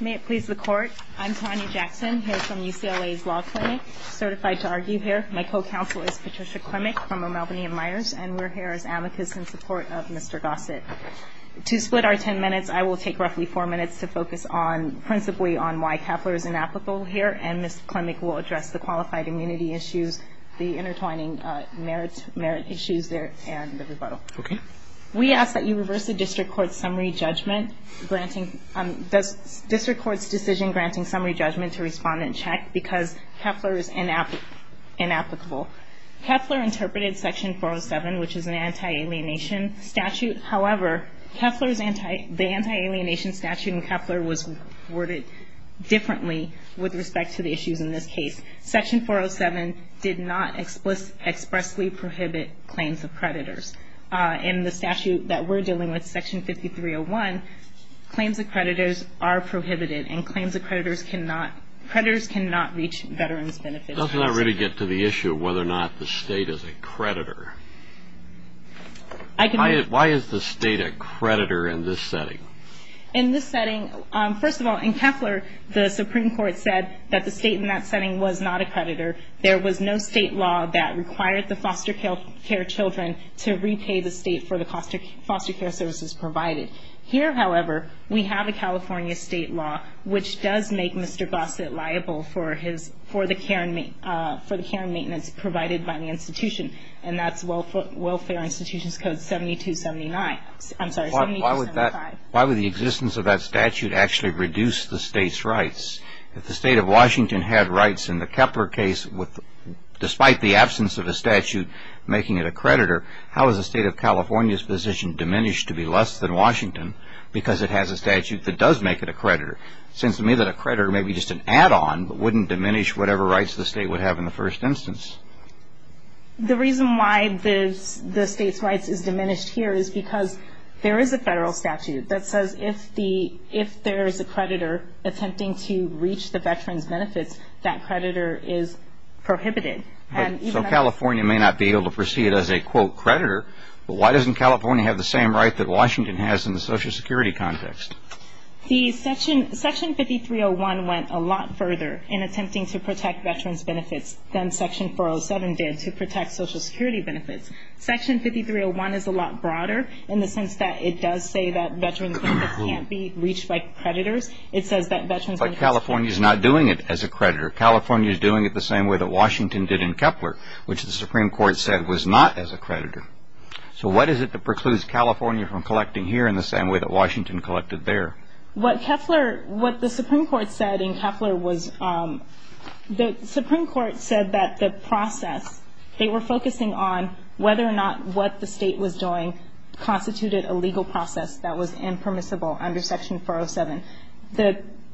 May it please the Court, I'm Tanya Jackson here from UCLA's Law Clinic, certified to argue here. My co-counsel is Patricia Klemek from O'Malbany and Myers and we're here as amicus in support of Mr. Gossett. To split our ten minutes I will take roughly four minutes to focus on principally on why Kepler is inapplicable here and Ms. Klemek will address the qualified immunity issues, the intertwining merit issues there, and the rebuttal. We ask that you this record's decision granting summary judgment to respond and check because Kepler is inapplicable. Kepler interpreted section 407 which is an anti-alienation statute, however, the anti-alienation statute in Kepler was worded differently with respect to the issues in this case. Section 407 did not expressly prohibit claims of creditors. In the statute that we're dealing with, section 5301, claims of creditors are prohibited and claims of creditors cannot reach veterans' benefits. Does that really get to the issue of whether or not the state is a creditor? Why is the state a creditor in this setting? In this setting, first of all, in Kepler the Supreme Court said that the state in that setting was not a creditor. There was no state law that required the foster care children to repay the state for the foster care services provided. Here, however, we have a California state law which does make Mr. Gossett liable for the care and maintenance provided by the institution, and that's Welfare Institutions Code 7279. I'm sorry, 7275. Why would the existence of that statute actually reduce the state's rights? If the state of Washington had rights in the Kepler case, despite the absence of a statute making it a creditor, how is the state of California's position diminished to be less than Washington because it has a statute that does make it a creditor? It seems to me that a creditor may be just an add-on, but wouldn't diminish whatever rights the state would have in the first instance. The reason why the state's rights is diminished here is because there is a federal statute that says if there is a creditor attempting to reach the California may not be able to proceed as a, quote, creditor, but why doesn't California have the same right that Washington has in the social security context? Section 5301 went a lot further in attempting to protect veterans' benefits than Section 407 did to protect social security benefits. Section 5301 is a lot broader in the sense that it does say that veterans' benefits can't be reached by creditors. It says that veterans... But California's not doing it as a creditor. California's doing it the same way that Washington did in Keffler, which the Supreme Court said was not as a creditor. So what is it that precludes California from collecting here in the same way that Washington collected there? What Keffler... what the Supreme Court said in Keffler was... The Supreme Court said that the process, they were focusing on whether or not what the state was doing constituted a legal process that was impermissible under Section 407.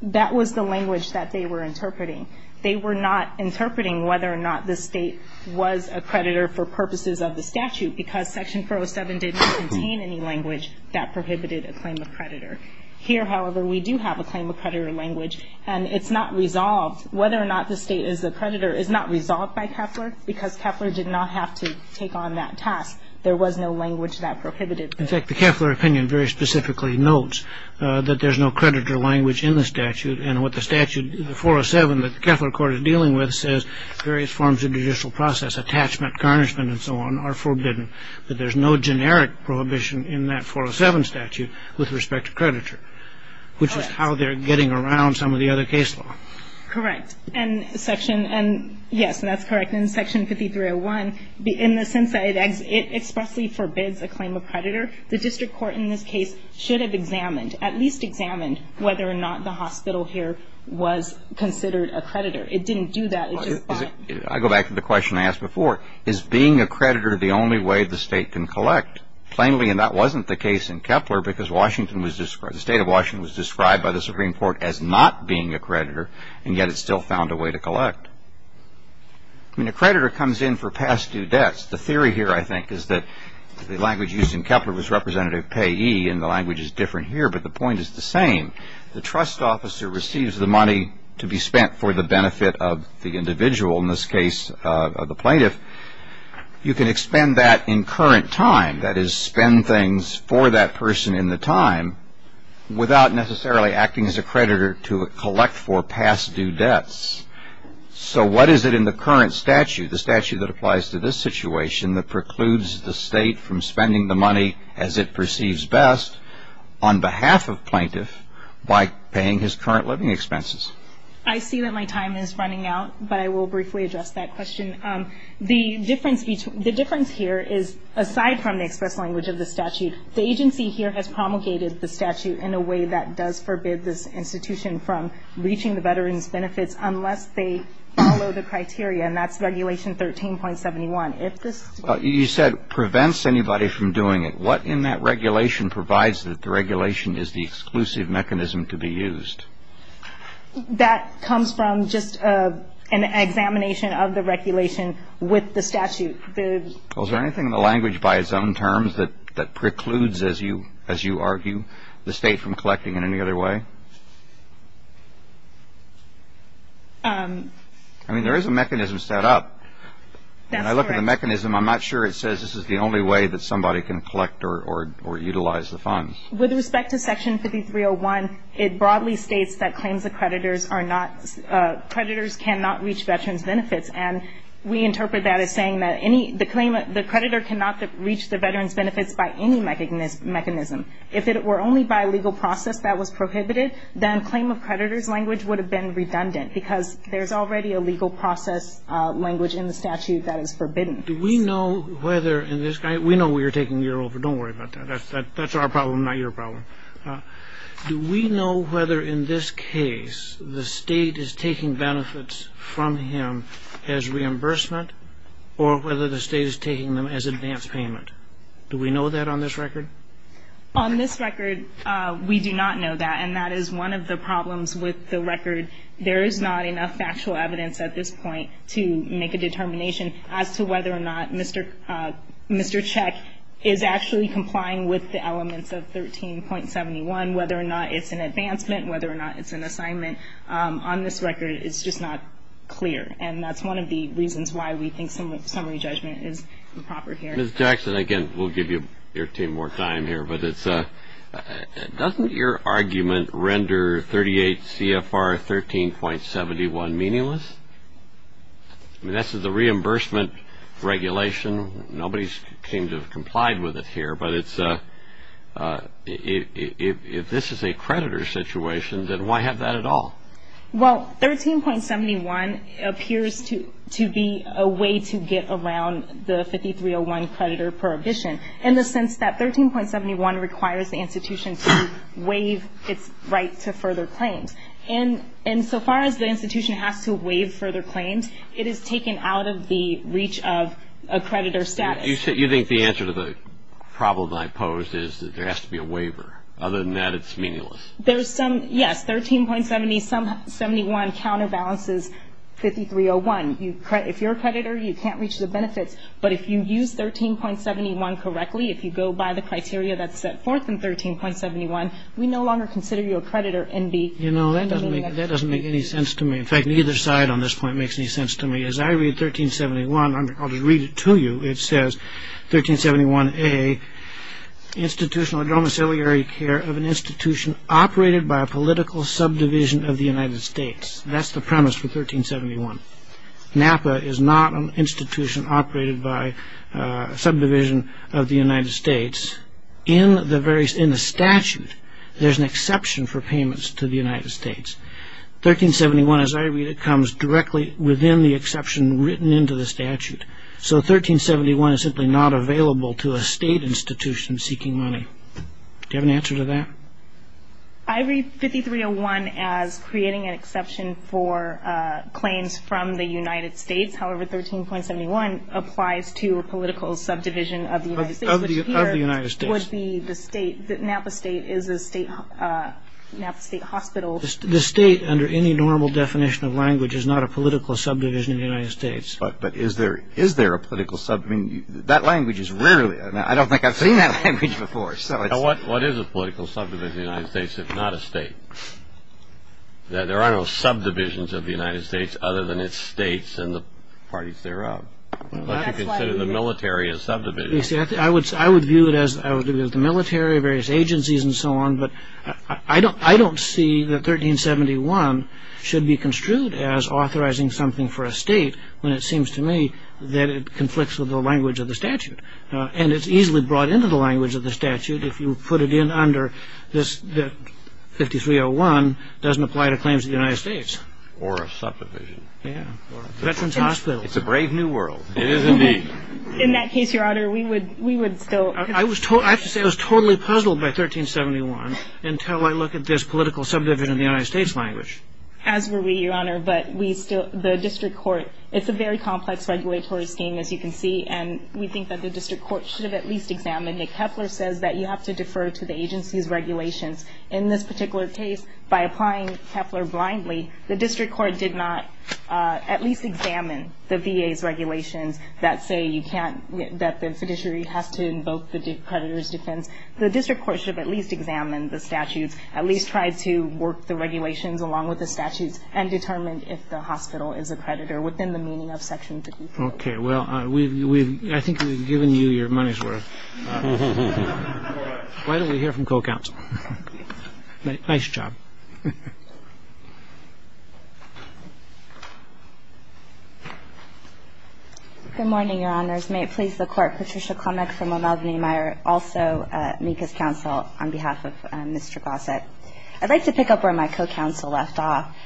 That was the language that they were interpreting. They were not interpreting whether or not the state was a creditor for purposes of the statute, because Section 407 did not contain any language that prohibited a claim of creditor. Here, however, we do have a claim of creditor language, and it's not resolved. Whether or not the state is a creditor is not resolved by Keffler, because Keffler did not have to take on that task. There was no language that prohibited it. In fact, the Keffler opinion very specifically notes that there's no creditor language in the statute, and what the statute... the 407 that the Keffler Court is dealing with says various forms of judicial process, attachment, carnishment, and so on, are forbidden. But there's no generic prohibition in that 407 statute with respect to creditor, which is how they're getting around some of the other case law. Correct. And Section... and yes, that's correct. In Section 5301, in the sense that it expressly forbids a claim of creditor, the district court in this case should have examined, at least examined, whether or not the hospital here was considered a creditor. It didn't do that. It just... I go back to the question I asked before. Is being a creditor the only way the State can collect? Plainly, and that wasn't the case in Keffler, because Washington was described... the State of Washington was described by the Supreme Court as not being a creditor, and yet it still found a way to collect. I mean, a creditor comes in for past due debts. The theory here, I think, is that the language used in Keffler was representative payee, and the language is different here, but the point is the same. The trust officer receives the money to be spent for the benefit of the individual, in this case, the plaintiff. You can expend that in current time, that is, spend things for that person in the time, without necessarily acting as a creditor to collect for past due debts. So what is it in the current statute, the statute that applies to this situation, that precludes the State from spending the money as it perceives best, on behalf of plaintiff, by paying his current living expenses? I see that my time is running out, but I will briefly address that question. The difference here is, aside from the express language of the statute, the agency here has promulgated the statute in a way that does forbid this institution from reaching the veteran's benefits, unless they follow the You said prevents anybody from doing it. What in that regulation provides that the regulation is the exclusive mechanism to be used? That comes from just an examination of the regulation with the statute. Well, is there anything in the language, by its own terms, that precludes, as you argue, the State from collecting in any other way? I mean, there is a mechanism set up. That's correct. The mechanism, I'm not sure it says this is the only way that somebody can collect or utilize the funds. With respect to Section 5301, it broadly states that claims of creditors are not, creditors cannot reach veteran's benefits, and we interpret that as saying that any, the claim, the creditor cannot reach the veteran's benefits by any mechanism. If it were only by legal process that was prohibited, then claim of creditor's language would have been redundant, because there's already a legal process language in the statute that is forbidden. Do we know whether in this case, we know we are taking year over, don't worry about that. That's our problem, not your problem. Do we know whether in this case the State is taking benefits from him as reimbursement or whether the State is taking them as advance payment? Do we know that on this record? On this record, we do not know that, and that is one of the problems with the record. There is not enough factual evidence at this point to make a determination as to whether or not Mr. Cech is actually complying with the elements of 13.71, whether or not it's an advancement, whether or not it's an assignment. On this record, it's just not clear, and that's one of the reasons why we think summary judgment is improper here. Ms. Jackson, again, we'll give you your team more time here, but it's, doesn't your argument render 38 CFR 13.71 meaningless? I mean, this is a reimbursement regulation. Nobody seems to have complied with it here, but it's, if this is a creditor situation, then why have that at all? Well, 13.71 appears to be a way to get around the 5301 creditor prohibition in the sense that 13.71 requires the institution to waive its right to further claims, and so far as the institution has to waive further claims, it is taken out of the reach of a creditor status. You think the answer to the problem I posed is that there has to be a waiver. Other than that, it's meaningless. There's some, yes, 13.71 counterbalances 5301. If you're a creditor, you can't reach the benefits, but if you use 13.71 correctly, if you go by the criteria that's set forth in 13.71, we no longer consider you a creditor and be. You know, that doesn't make any sense to me. In fact, neither side on this point makes any sense to me. As I read 13.71, I'm going to read it to you. It says, 13.71A, institutional and domiciliary care of an institution operated by a political subdivision of the United States. That's the premise for 13.71. NAPA is not an institution operated by a subdivision of the United States. In the statute, there's an exception for payments to the United States. 13.71, as I read it, comes directly within the exception written into the statute. So 13.71 is simply not available to a state institution seeking money. Do you have an answer to that? I read 5301 as creating an exception for claims from the United States. However, 13.71 applies to a political subdivision of the United States. Of the United States. Which would be the state, Napa State is a state, Napa State Hospital. The state, under any normal definition of language, is not a political subdivision of the United States. But is there a political, I mean, that language is rarely, I don't think I've seen that language before. What is a political subdivision of the United States if not a state? There are no subdivisions of the United States other than it's states and the parties thereof, unless you consider the military a subdivision. I would view it as the military, various agencies, and so on. But I don't see that 13.71 should be construed as authorizing something for a state when it seems to me that it conflicts with the language of the statute. And it's easily brought into the language of the statute if you put it in under this 5301 doesn't apply to claims of the United States. Or a subdivision. Yeah. Veterans Hospital. It's a brave new world. It is indeed. In that case, your honor, we would still. I have to say I was totally puzzled by 1371 until I look at this political subdivision of the United States language. As were we, your honor, but the district court, it's a very complex regulatory scheme, as you can see. And we think that the district court should have at least examined it. Kepler says that you have to defer to the agency's regulations. In this particular case, by applying Kepler blindly, the district court did not at least examine the VA's regulations that say you can't, that the fiduciary has to invoke the creditor's defense. The district court should have at least examined the statutes, at least tried to work the regulations along with the statutes, and determined if the hospital is a creditor within the meaning of section 15. Okay, well, we've, I think we've given you your money's worth. Why don't we hear from co-counsel? Nice job. Good morning, your honors. May it please the court, Patricia Klemek from LaMalvenie Meyer, also MECA's counsel on behalf of Mr. Gossett. I'd like to pick up where my co-counsel left off.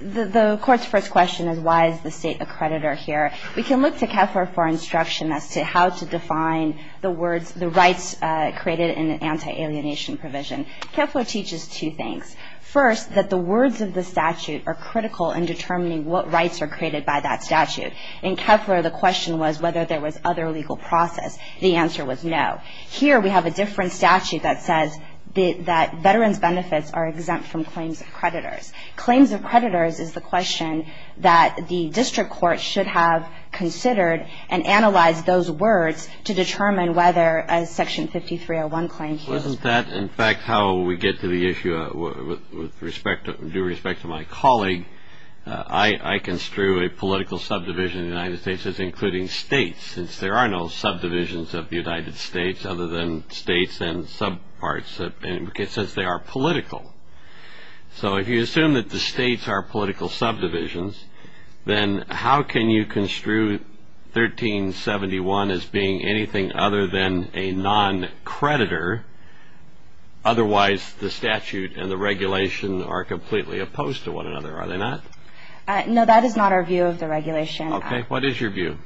The court's first question is why is the state a creditor here? We can look to Kepler for instruction as to how to define the words, the rights created in an anti-alienation provision. Kepler teaches two things. First, that the words of the statute are critical in determining what rights are created by that statute. In Kepler, the question was whether there was other legal process. The answer was no. Here, we have a different statute that says that veterans' benefits are exempt from claims of creditors. Claims of creditors is the question that the district court should have considered and analyzed those words to determine whether a Section 5301 claim here. Well, isn't that, in fact, how we get to the issue with respect, due respect to my colleague? I construe a political subdivision in the United States as including states, since there are no subdivisions of the United States other than states and subparts, since they are political. So if you assume that the states are political subdivisions, then how can you construe 1371 as being anything other than a non-creditor? Otherwise, the statute and the regulation are completely opposed to one another. Are they not? No, that is not our view of the regulation. OK, what is your view?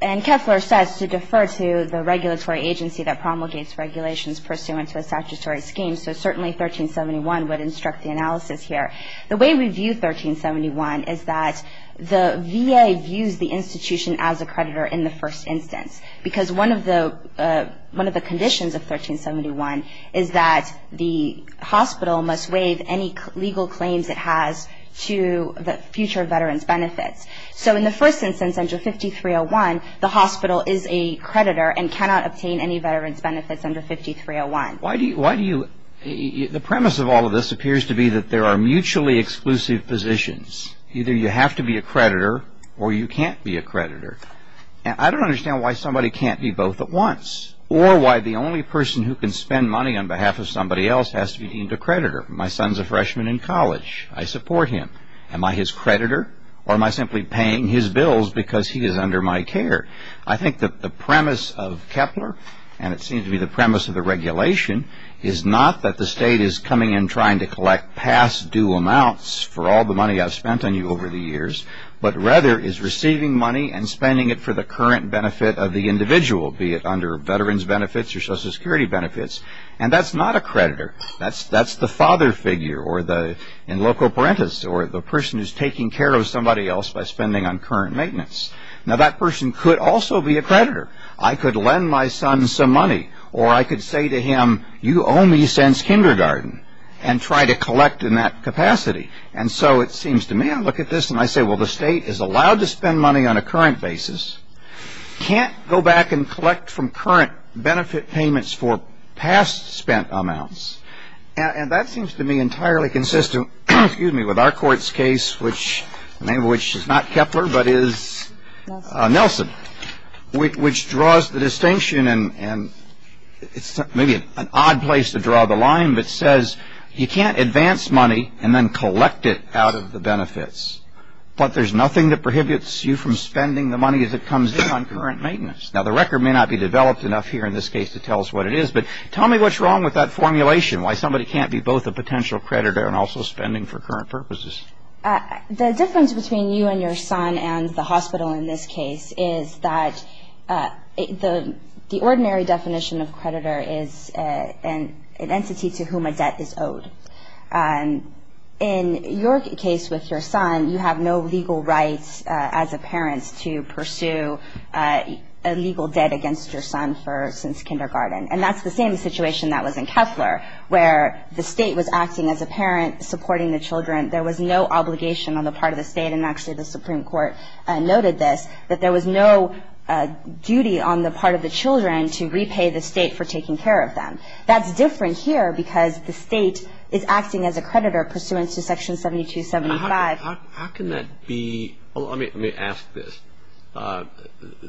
And Kepler says to defer to the regulatory agency that promulgates regulations pursuant to a statutory scheme. So certainly 1371 would instruct the analysis here. The way we view 1371 is that the VA views the institution as a creditor in the first instance, because one of the conditions of 1371 is that the hospital must waive any legal claims it has to the future veterans' benefits. So in the first instance, under 5301, the hospital is a creditor and cannot obtain any veterans' benefits under 5301. Why do you, the premise of all of this appears to be that there are mutually exclusive positions. Either you have to be a creditor or you can't be a creditor. I don't understand why somebody can't be both at once or why the only person who can spend money on behalf of somebody else has to be deemed a creditor. My son's a freshman in college. I support him. Am I his creditor or am I simply paying his bills because he is under my care? I think that the premise of Kepler, and it seems to be the premise of the regulation, is not that the state is coming in trying to collect past due amounts for all the money I've spent on you over the years, but rather is receiving money and spending it for the current benefit of the individual, be it under veterans' benefits or Social Security benefits, and that's not a creditor. That's the father figure or the in loco parentis or the person who's taking care of somebody else by spending on current maintenance. Now, that person could also be a creditor. I could lend my son some money, or I could say to him, you owe me since kindergarten and try to collect in that capacity. And so it seems to me, I look at this and I say, well, the state is allowed to spend money on a current basis, can't go back and collect from current benefit payments for past spent amounts. And that seems to me entirely consistent, excuse me, with our court's case, which is not Kepler, but is Nelson, which draws the distinction and it's maybe an odd place to draw the line, but says you can't advance money and then collect it out of the benefits, but there's nothing that prohibits you from spending the money as it comes in on current maintenance. Now, the record may not be developed enough here in this case to tell us what it is, but tell me what's wrong with that formulation, why somebody can't be both a potential creditor and also spending for current purposes. The difference between you and your son and the hospital in this case is that the ordinary definition of creditor is an entity to whom a debt is owed. In your case with your son, you have no legal rights as a parent to pursue a legal debt against your son since kindergarten. And that's the same situation that was in Kepler, where the state was acting as a parent supporting the children. There was no obligation on the part of the state, and actually the Supreme Court noted this, that there was no duty on the part of the children to repay the state for taking care of them. That's different here because the state is acting as a creditor pursuant to section 7275. How can that be, let me ask this,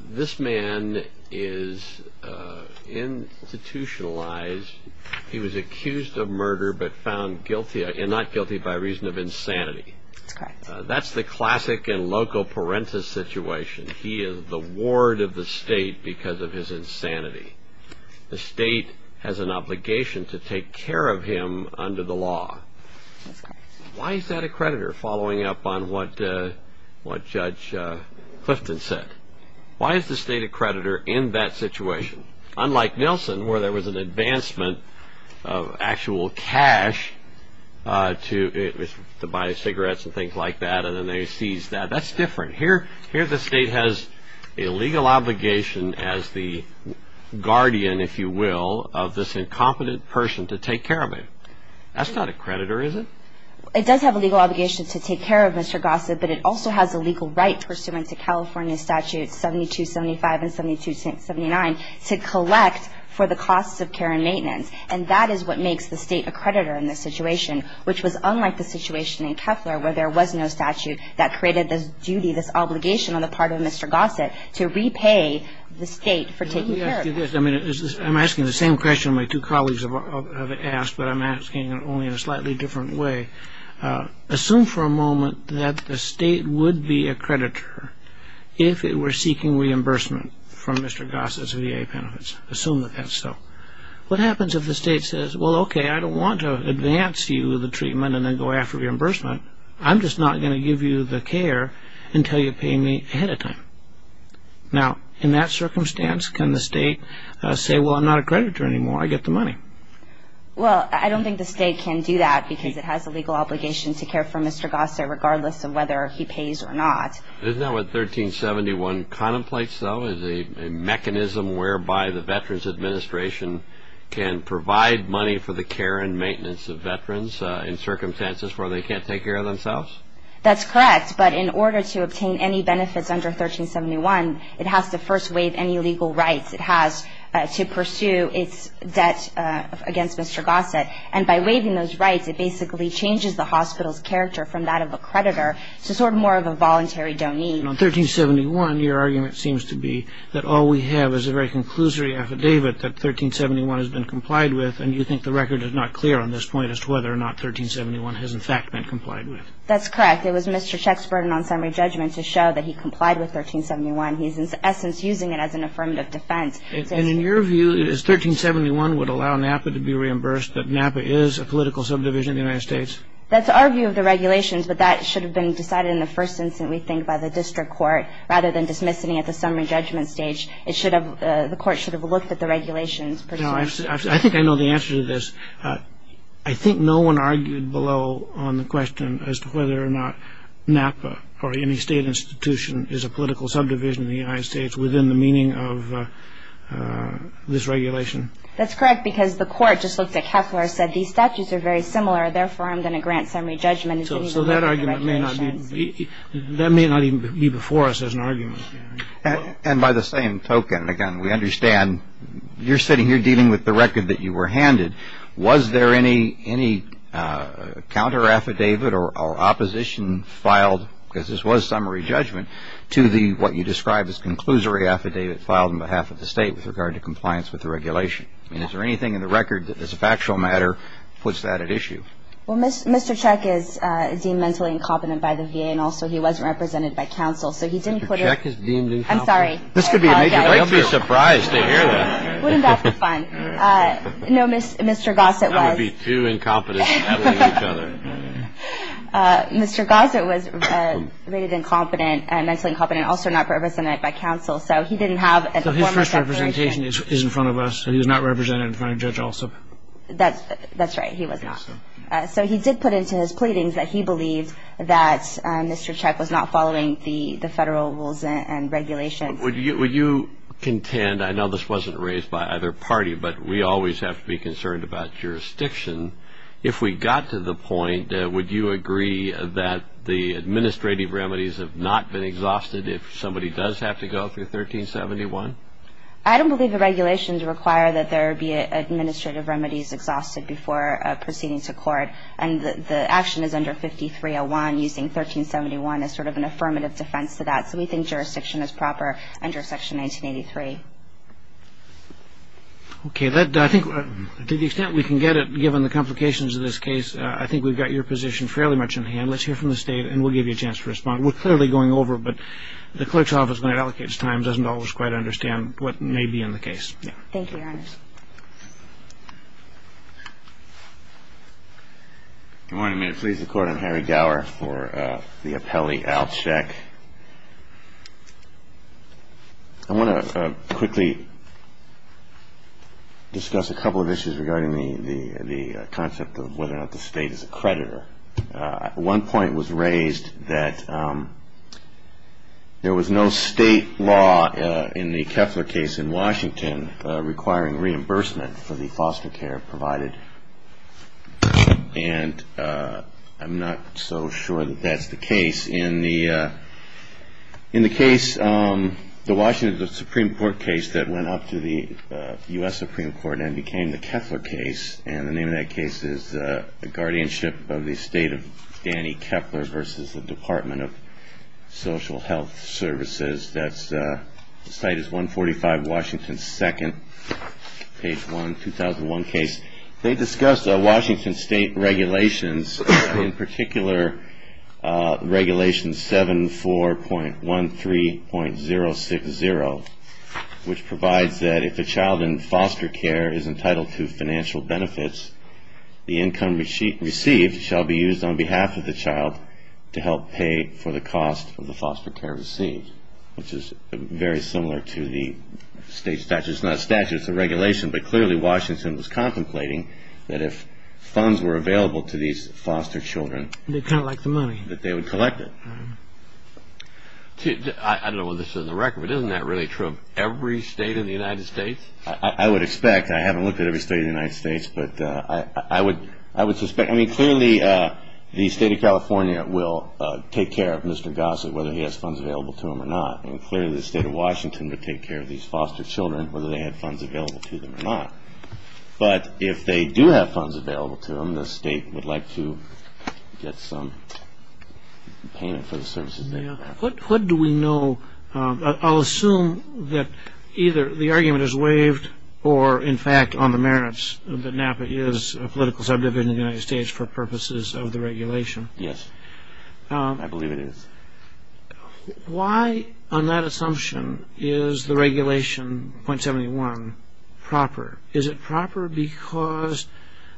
this man is institutionalized, he was accused of murder but found guilty, and not guilty by reason of insanity. That's the classic and loco parentis situation. He is the ward of the state because of his insanity. The state has an obligation to take care of him under the law. Why is that a creditor, following up on what Judge Clifton said? Why is the state a creditor in that situation? Unlike Nelson, where there was an advancement of actual cash to buy cigarettes and things like that, and then they seized that. That's different. Here the state has a legal obligation as the guardian, if you will, of this incompetent person to take care of him. That's not a creditor, is it? It does have a legal obligation to take care of Mr. Gossett, but it also has a legal right pursuant to California Statutes 7275 and 7279 to collect for the costs of care and maintenance. And that is what makes the state a creditor in this situation, which was unlike the situation in Keffler where there was no statute that created this duty, this obligation on the part of Mr. Gossett to repay the state for taking care of him. I'm asking the same question my two colleagues have asked, but I'm asking it only in a slightly different way. Assume for a moment that the state would be a creditor if it were seeking reimbursement from Mr. Gossett's VA benefits. Assume that that's so. What happens if the state says, well, OK, I don't want to advance you the treatment and then go after reimbursement. I'm just not going to give you the care until you pay me ahead of time. Now, in that circumstance, can the state say, well, I'm not a creditor anymore. I get the money? Well, I don't think the state can do that because it has a legal obligation to care for Mr. Gossett regardless of whether he pays or not. Isn't that what 1371 contemplates, though, is a mechanism whereby the Veterans Administration can provide money for the care and maintenance of veterans in circumstances where they can't take care of themselves? That's correct, but in order to obtain any benefits under 1371, it has to first waive any legal rights it has to pursue its debt against Mr. Gossett. And by waiving those rights, it basically changes the hospital's character from that of a creditor to sort of more of a voluntary donee. On 1371, your argument seems to be that all we have is a very conclusory affidavit that 1371 has been complied with, and you think the record is not clear on this point as to whether or not 1371 has in fact been complied with. That's correct. It was Mr. Chek's burden on summary judgment to show that he complied with 1371. He's in essence using it as an affirmative defense. And in your view, is 1371 would allow NAPA to be reimbursed that NAPA is a political subdivision of the United States? That's our view of the regulations, but that should have been decided in the first instance we think by the district court rather than dismissing it at the summary judgment stage. It should have, the court should have looked at the regulations. Now, I think I know the answer to this. I think no one argued below on the question as to whether or not NAPA or any state institution is a political subdivision of the United States within the meaning of this regulation. That's correct because the court just looked at Kepler and said these statutes are very similar. Therefore, I'm going to grant summary judgment. So that argument may not be, that may not even be before us as an argument. And by the same token, again, we understand you're sitting here dealing with the record that you were handed. Was there any counter affidavit or opposition filed, because this was summary judgment, to the, what you described as conclusory affidavit filed on behalf of the state with regard to compliance with the regulation? I mean, is there anything in the record that as a factual matter puts that at issue? Well, Mr. Cech is deemed mentally incompetent by the VA and also he wasn't represented by counsel. So he didn't put a. Mr. Cech is deemed incompetent. I'm sorry. This could be a major. They'll be surprised to hear that. Wouldn't that be fun? No, Mr. Gossett was. That would be two incompetents battling each other. Mr. Gossett was rated incompetent, mentally incompetent, and also not represented by counsel. So he didn't have a formal. So his first representation is in front of us. So he was not represented in front of Judge Alsop. That's right. He was not. So he did put into his pleadings that he believed that Mr. Cech was not following the federal rules and regulations. Would you contend, I know this wasn't raised by either party, but we always have to be concerned about jurisdiction. If we got to the point, would you agree that the administrative remedies have not been exhausted if somebody does have to go through 1371? I don't believe the regulations require that there be administrative remedies exhausted before proceeding to court. And the action is under 5301 using 1371 as sort of an affirmative defense to that. So we think jurisdiction is proper under Section 1983. Okay. I think to the extent we can get it, given the complications of this case, I think we've got your position fairly much in hand. Let's hear from the State, and we'll give you a chance to respond. We're clearly going over, but the clerk's office, when it allocates time doesn't always quite understand what may be in the case. Yeah. Thank you, Your Honor. Good morning. May it please the Court, I'm Harry Gower for the appellee, Al Chek. I want to quickly discuss a couple of issues regarding the concept of whether or not the State is a creditor. One point was raised that there was no State law in the Keffler case in Washington requiring reimbursement for the foster care provided. And I'm not so sure that that's the case. In the case, the Washington Supreme Court case that went up to the U.S. Supreme Court and became the Keffler case, and the name of that case is the guardianship of the estate of Danny Keffler versus the Department of Social Health Services. That site is 145 Washington 2nd, page 1, 2001 case. They discussed Washington State regulations, in particular regulation 74.13.060, which provides that if a child in foster care is entitled to financial benefits, the income received shall be used on behalf of the child to help pay for the cost of the foster care received, which is very similar to the State statute. It's not a statute, it's a regulation, but clearly Washington was contemplating that if funds were available to these foster children that they would collect it. I don't know whether this is on the record, but isn't that really true of every state in the United States? I would expect. I haven't looked at every state in the United States, but I would suspect. I mean clearly the State of California will take care of Mr. Gossett whether he has funds available to him or not, and clearly the State of Washington would take care of these foster children whether they had funds available to them or not. But if they do have funds available to them, the state would like to get some payment for the services they have. What do we know? I'll assume that either the argument is waived or in fact on the merits that NAPA is a political subdivision of the United States for purposes of the regulation. Yes, I believe it is. Why on that assumption is the regulation .71 proper? Is it proper because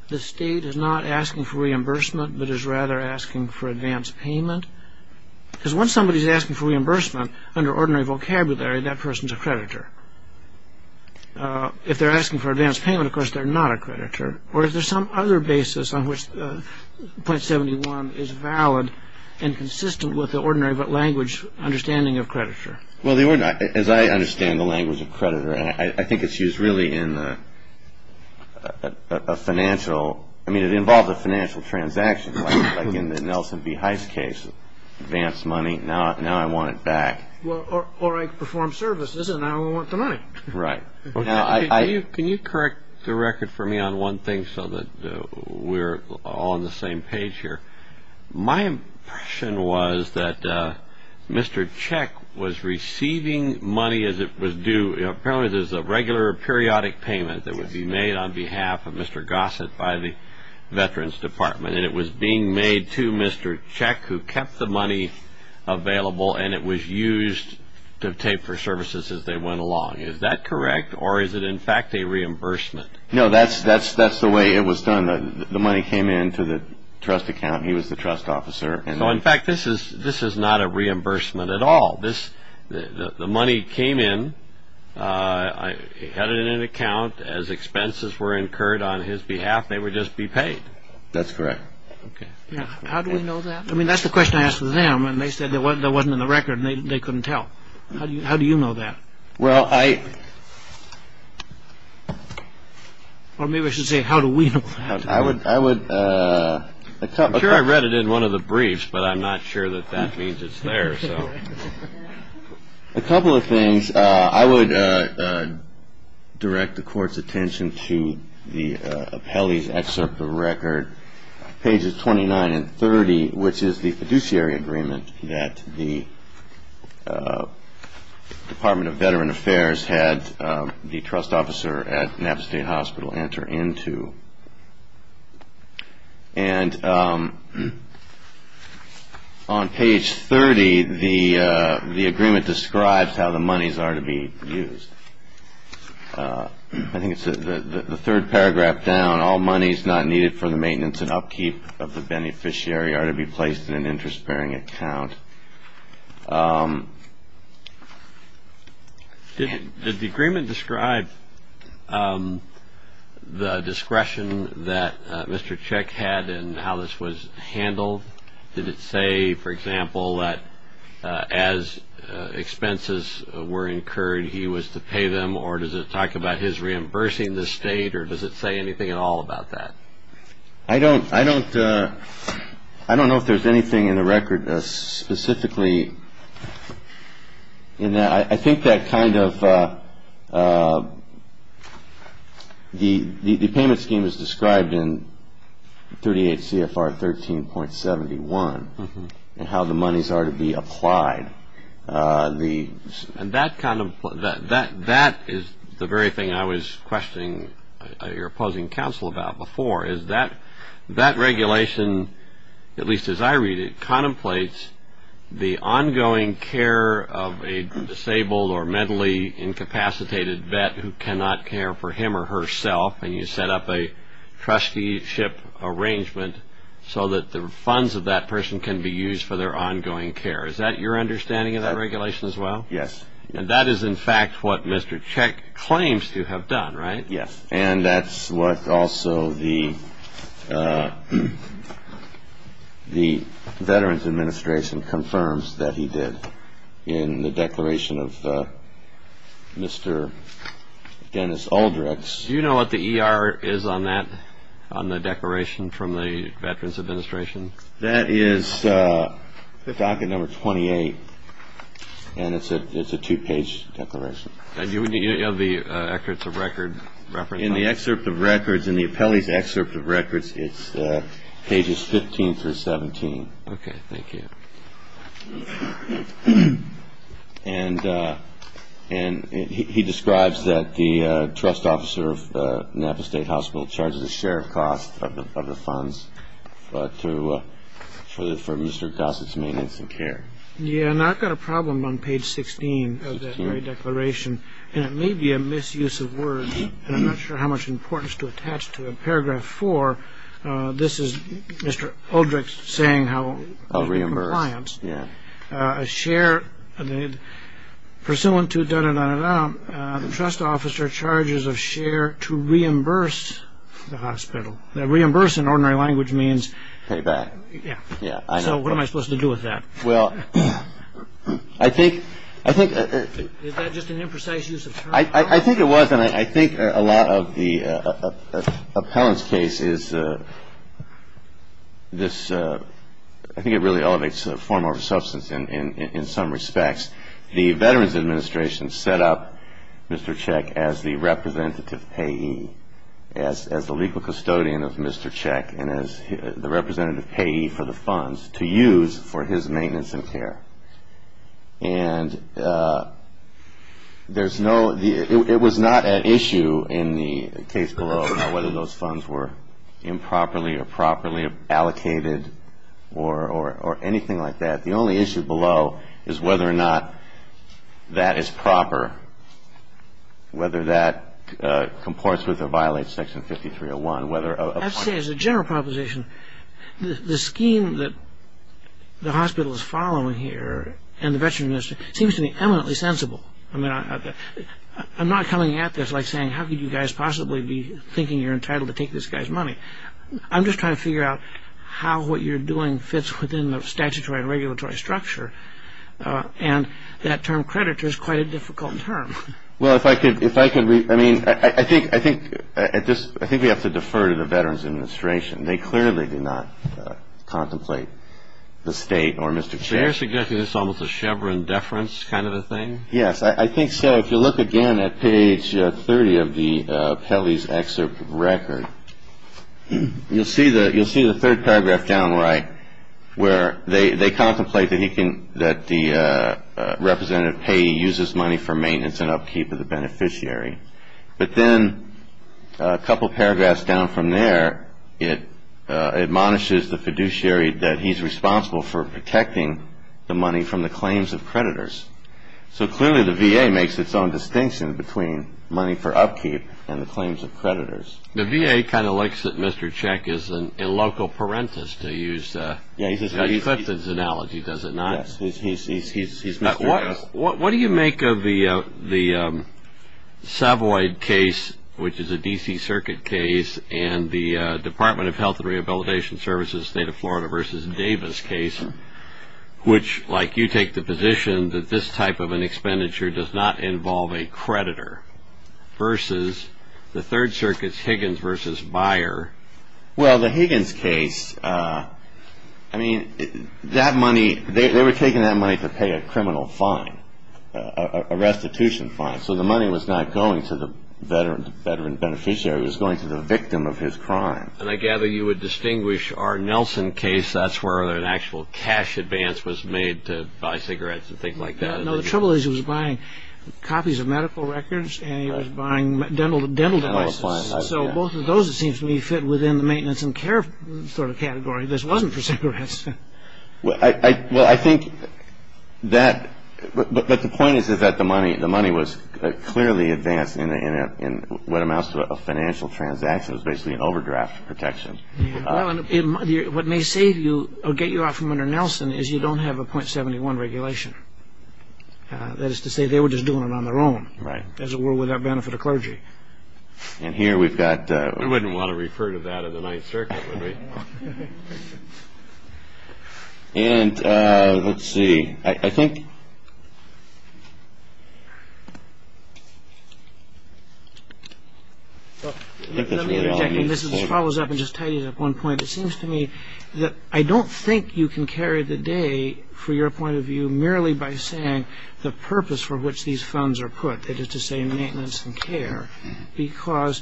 the state is not asking for reimbursement but is rather asking for advance payment? Because when somebody is asking for reimbursement, under ordinary vocabulary that person is a creditor. If they're asking for advance payment, of course they're not a creditor. Or is there some other basis on which .71 is valid and consistent with the ordinary but language understanding of creditor? Well, as I understand the language of creditor, I think it's used really in a financial, I mean it involves a financial transaction like in the Nelson B. Heitz case, advance money, now I want it back. Or I perform services and now I want the money. Right. Can you correct the record for me on one thing so that we're all on the same page here? My impression was that Mr. Cech was receiving money as it was due, apparently there's a regular periodic payment that would be made on behalf of Mr. Gossett by the Veterans Department and it was being made to Mr. Cech who kept the money available and it was used to pay for services as they went along. Is that correct or is it in fact a reimbursement? No, that's the way it was done. The money came in to the trust account and he was the trust officer. So in fact this is not a reimbursement at all. The money came in, had it in an account, as expenses were incurred on his behalf, they would just be paid. That's correct. How do we know that? I mean that's the question I asked them and they said it wasn't in the record and they couldn't tell. How do you know that? Well, I... Or maybe I should say, how do we know that? I would... I'm sure I read it in one of the briefs, but I'm not sure that that means it's there, so... A couple of things, I would direct the court's attention to the appellee's excerpt of record, pages 29 and 30, which is the fiduciary agreement that the Department of Veteran Affairs had the trust officer at Napa State Hospital enter into. And on page 30, the agreement describes how the monies are to be used. I think it's the third paragraph down, all monies not needed for the maintenance and upkeep of the beneficiary are to be placed in an interest-bearing account. Did the agreement describe the discretion that Mr. Chick had and how this was handled? Did it say, for example, that as expenses were incurred, he was to pay them, or does it talk about his reimbursing the state, or does it say anything at all about that? I don't know if there's anything in the record specifically in that. I think that kind of... The payment scheme is described in 38 CFR 13.71, and how the monies are to be applied. And that is the very thing I was questioning your opposing counsel about before, is that that regulation, at least as I read it, contemplates the ongoing care of a disabled or mentally incapacitated vet who cannot care for him or herself, and you set up a trusteeship arrangement so that the funds of that person can be used for their ongoing care. Is that your understanding of that regulation as well? Yes. And that is, in fact, what Mr. Chick claims to have done, right? Yes. And that's what also the Veterans Administration confirms that he did in the declaration of Mr. Dennis Aldrex. Do you know what the ER is on that, on the declaration from the Veterans Administration? That is docket number 28, and it's a two-page declaration. Do you have the records of record reference? In the excerpt of records, in the appellee's excerpt of records, it's pages 15 through 17. Okay, thank you. And he describes that the trust officer of Napa State Hospital charges a share of cost of the funds for Mr. Gossett's maintenance and care. Yeah, and I've got a problem on page 16 of that very declaration, and it may be a misuse of words, and I'm not sure how much importance to attach to it. Paragraph 4, this is Mr. Aldrex saying how... Of reimburse, yeah. A share, pursuant to da-da-da-da-da, the trust officer charges a share to reimburse the hospital. Now, reimburse in ordinary language means... Payback. Yeah. Yeah, I know. So what am I supposed to do with that? Well, I think... Is that just an imprecise use of terms? I think it was, and I think a lot of the appellant's case is this... I think it really elevates form over substance in some respects. The Veterans Administration set up Mr. Cech as the representative payee, as the legal custodian of Mr. Cech, and as the representative payee for the funds to use for his maintenance and care. And there's no... It was not an issue in the case below about whether those funds were improperly or properly allocated or anything like that. The only issue below is whether or not that is proper, whether that comports with or violates Section 5301, whether a point... I'd say as a general proposition, the scheme that the hospital is following here and the Veterans Administration seems to be eminently sensible. I mean, I'm not coming at this like saying, how could you guys possibly be thinking you're entitled to take this guy's money? I'm just trying to figure out how what you're doing fits within the statutory and regulatory structure. And that term creditor is quite a difficult term. Well, if I could... I mean, I think we have to defer to the Veterans Administration. They clearly did not contemplate the state or Mr. Cech. So you're suggesting it's almost a Chevron deference kind of a thing? Yes, I think so. If you look again at page 30 of the Pelley's excerpt record, you'll see the third paragraph down right, where they contemplate that the representative payee uses money for maintenance and upkeep of the beneficiary. But then a couple paragraphs down from there, it admonishes the fiduciary that he's responsible for protecting the money from the claims of creditors. So clearly the VA makes its own distinction between money for upkeep and the claims of creditors. The VA kind of likes that Mr. Cech is a local parentis to use... He's got Clifton's analogy, does it not? Yes, he's Mr. Cech. What do you make of the Savoy case, which is a D.C. Circuit case, and the Department of Health and Rehabilitation Services, State of Florida v. Davis case, which, like you, take the position that this type of an expenditure does not involve a creditor, versus the Third Circuit's Higgins v. Byer? Well, the Higgins case, I mean, that money, they were taking that money to pay a criminal fine, a restitution fine. So the money was not going to the veteran beneficiary, it was going to the victim of his crime. And I gather you would distinguish our Nelson case, that's where an actual cash advance was made to buy cigarettes and things like that. No, the trouble is he was buying copies of medical records and he was buying dental devices. So both of those, it seems to me, fit within the maintenance and care sort of category. This wasn't for cigarettes. Well, I think that... But the point is that the money was clearly advanced in what amounts to a financial transaction, it was basically an overdraft protection. Well, and what may save you or get you out from under Nelson is you don't have a .71 regulation. That is to say, they were just doing it on their own, as it were, without benefit of clergy. And here we've got... We wouldn't want to refer to that in the Ninth Circuit, would we? And, let's see, I think... Let me interject, and this just follows up and just tidies up one point. It seems to me that I don't think you can carry the day, for your point of view, merely by saying the purpose for which these funds are put, that is to say, maintenance and care, because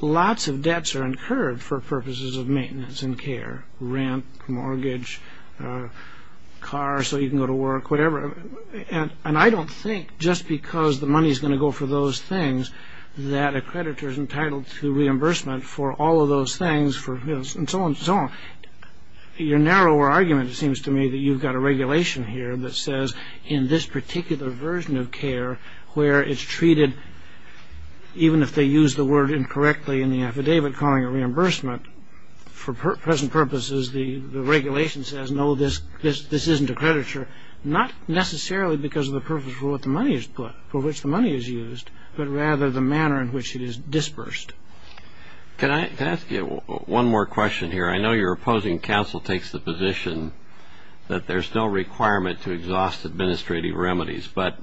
lots of debts are incurred for purposes of maintenance and care. Rent, mortgage, car, so you can go to work, whatever. And I don't think, just because the money is going to go for those things, that a creditor is entitled to reimbursement for all of those things, and so on and so on. Your narrower argument, it seems to me, that you've got a regulation here that says, in this particular version of care, where it's treated, even if they use the word incorrectly in the affidavit calling it reimbursement, for present purposes, the regulation says, no, this isn't a creditor, not necessarily because of the purpose for which the money is used, but rather the manner in which it is dispersed. Can I ask you one more question here? I know your opposing counsel takes the position that there's no requirement to exhaust administrative remedies, but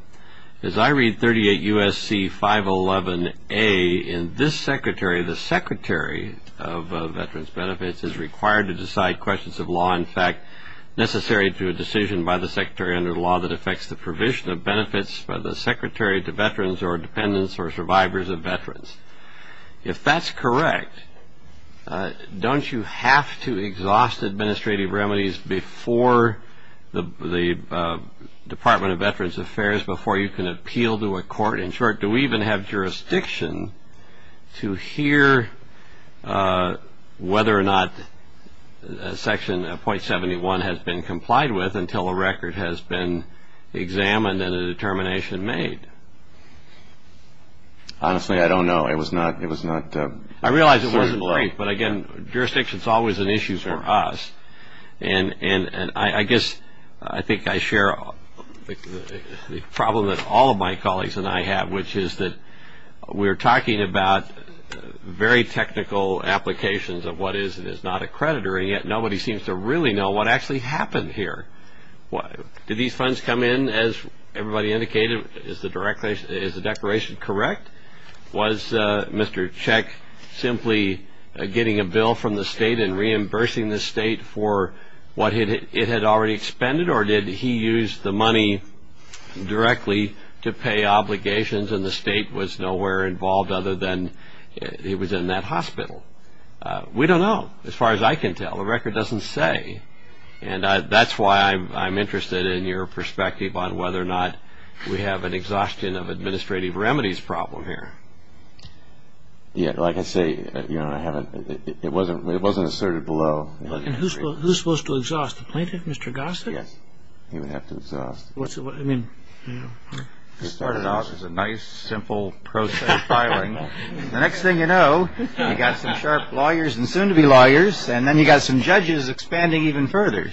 as I read 38 U.S.C. 511A, in this Secretary, the Secretary of Veterans Benefits is required to decide questions of law, in fact, necessary to a decision by the Secretary under the law that affects the provision of benefits by the Secretary to veterans or dependents or survivors of veterans. If that's correct, don't you have to exhaust administrative remedies before the Department of Veterans Affairs, before you can appeal to a court? In short, do we even have jurisdiction to hear whether or not Section .71 has been complied with until a record has been examined and a determination made? Honestly, I don't know. It was not... I realize it wasn't brief, but again, jurisdiction is always an issue for us. And I guess I think I share the problem that all of my colleagues and I have, which is that we're talking about very technical applications of what is and is not a creditor, and yet nobody seems to really know what actually happened here. Did these funds come in, as everybody indicated? Is the declaration correct? Was Mr. Cech simply getting a bill from the state and reimbursing the state for what it had already expended, or did he use the money directly to pay obligations and the state was nowhere involved other than it was in that hospital? We don't know, as far as I can tell. The record doesn't say. And that's why I'm interested in your perspective on whether or not we have an exhaustion of administrative remedies problem here. Yeah, like I say, it wasn't asserted below. Who's supposed to exhaust? The plaintiff, Mr. Gossett? Yes, he would have to exhaust. It started out as a nice, simple process of filing. The next thing you know, you've got some sharp lawyers and soon-to-be lawyers, and then you've got some judges expanding even further.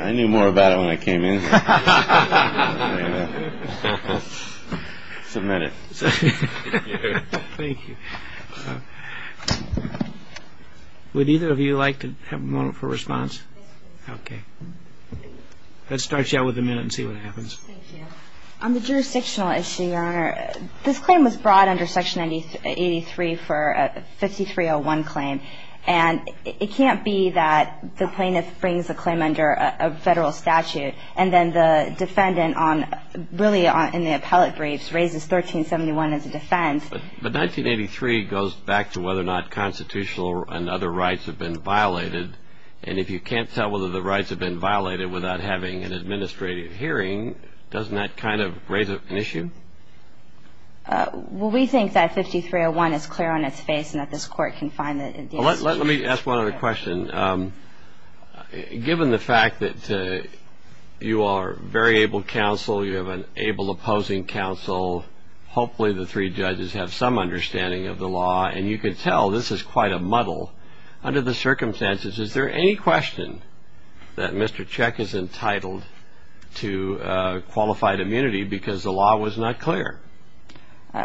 I knew more about it when I came in. It's a minute. Thank you. Would either of you like to have a moment for response? Yes, please. Okay. Let's start you out with a minute and see what happens. Thank you. On the jurisdictional issue, Your Honor, this claim was brought under Section 83 for a 5301 claim, and it can't be that the plaintiff brings a claim under a federal statute and then the defendant, really in the appellate briefs, raises 1371 as a defense. But 1983 goes back to whether or not constitutional and other rights have been violated, and if you can't tell whether the rights have been violated without having an administrative hearing, doesn't that kind of raise an issue? Well, we think that 5301 is clear on its face and that this Court can find it. Let me ask one other question. Given the fact that you are a very able counsel, you have an able opposing counsel, hopefully the three judges have some understanding of the law, and you can tell this is quite a muddle, under the circumstances, is there any question that Mr. Cech is entitled to qualified immunity because the law was not clear?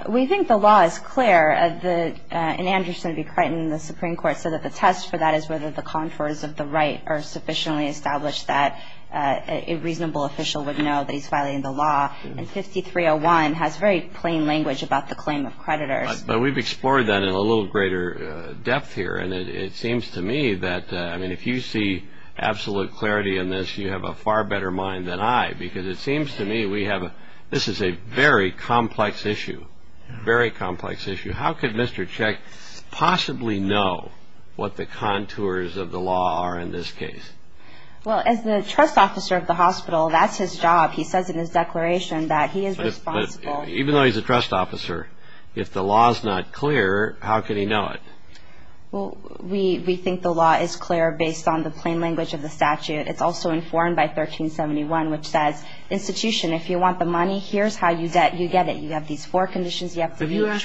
We think the law is clear. In Anderson v. Creighton, the Supreme Court said that the test for that is whether the contours of the right are sufficiently established that a reasonable official would know that he's filing the law, and 5301 has very plain language about the claim of creditors. But we've explored that in a little greater depth here, and it seems to me that, I mean, if you see absolute clarity in this, you have a far better mind than I, because it seems to me we have a, this is a very complex issue, very complex issue. How could Mr. Cech possibly know what the contours of the law are in this case? Well, as the trust officer of the hospital, that's his job. He says in his declaration that he is responsible. Even though he's a trust officer, if the law is not clear, how can he know it? Well, we think the law is clear based on the plain language of the statute. It's also informed by 1371, which says, institution, if you want the money, here's how you get it. You have these four conditions, you have to be... Has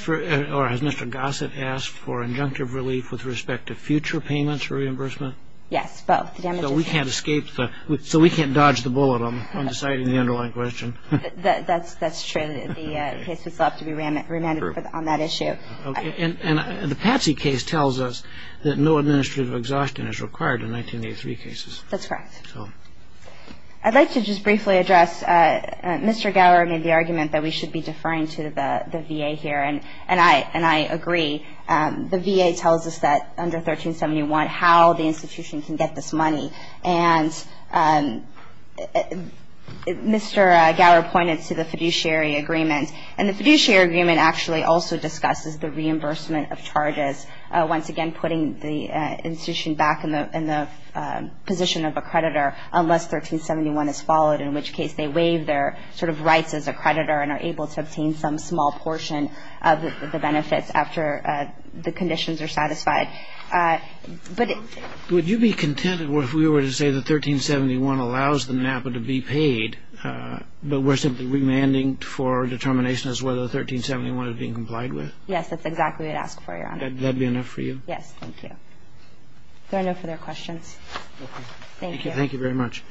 Mr. Gossett asked for injunctive relief with respect to future payments or reimbursement? Yes, both. So we can't dodge the bullet on deciding the underlying question. That's true. The case was left to be remanded on that issue. And the Patsy case tells us that no administrative exhaustion is required in 1983 cases. That's correct. I'd like to just briefly address, Mr. Gower made the argument that we should be And I agree. The VA tells us that under 1371, how the institution can get this money. And Mr. Gower pointed to the fiduciary agreement. And the fiduciary agreement actually also discusses the reimbursement of charges. Once again, putting the institution back in the position of a creditor, unless 1371 is followed, in which case they waive their rights as a creditor and are able to obtain some small portion of the benefits after the conditions are satisfied. Would you be content if we were to say that 1371 allows the NAPA to be paid, but we're simply remanding for determination as to whether 1371 is being complied with? Yes, that's exactly what I'd ask for, Your Honor. Would that be enough for you? Yes, thank you. Do I have no further questions? Thank you. Thank you very much.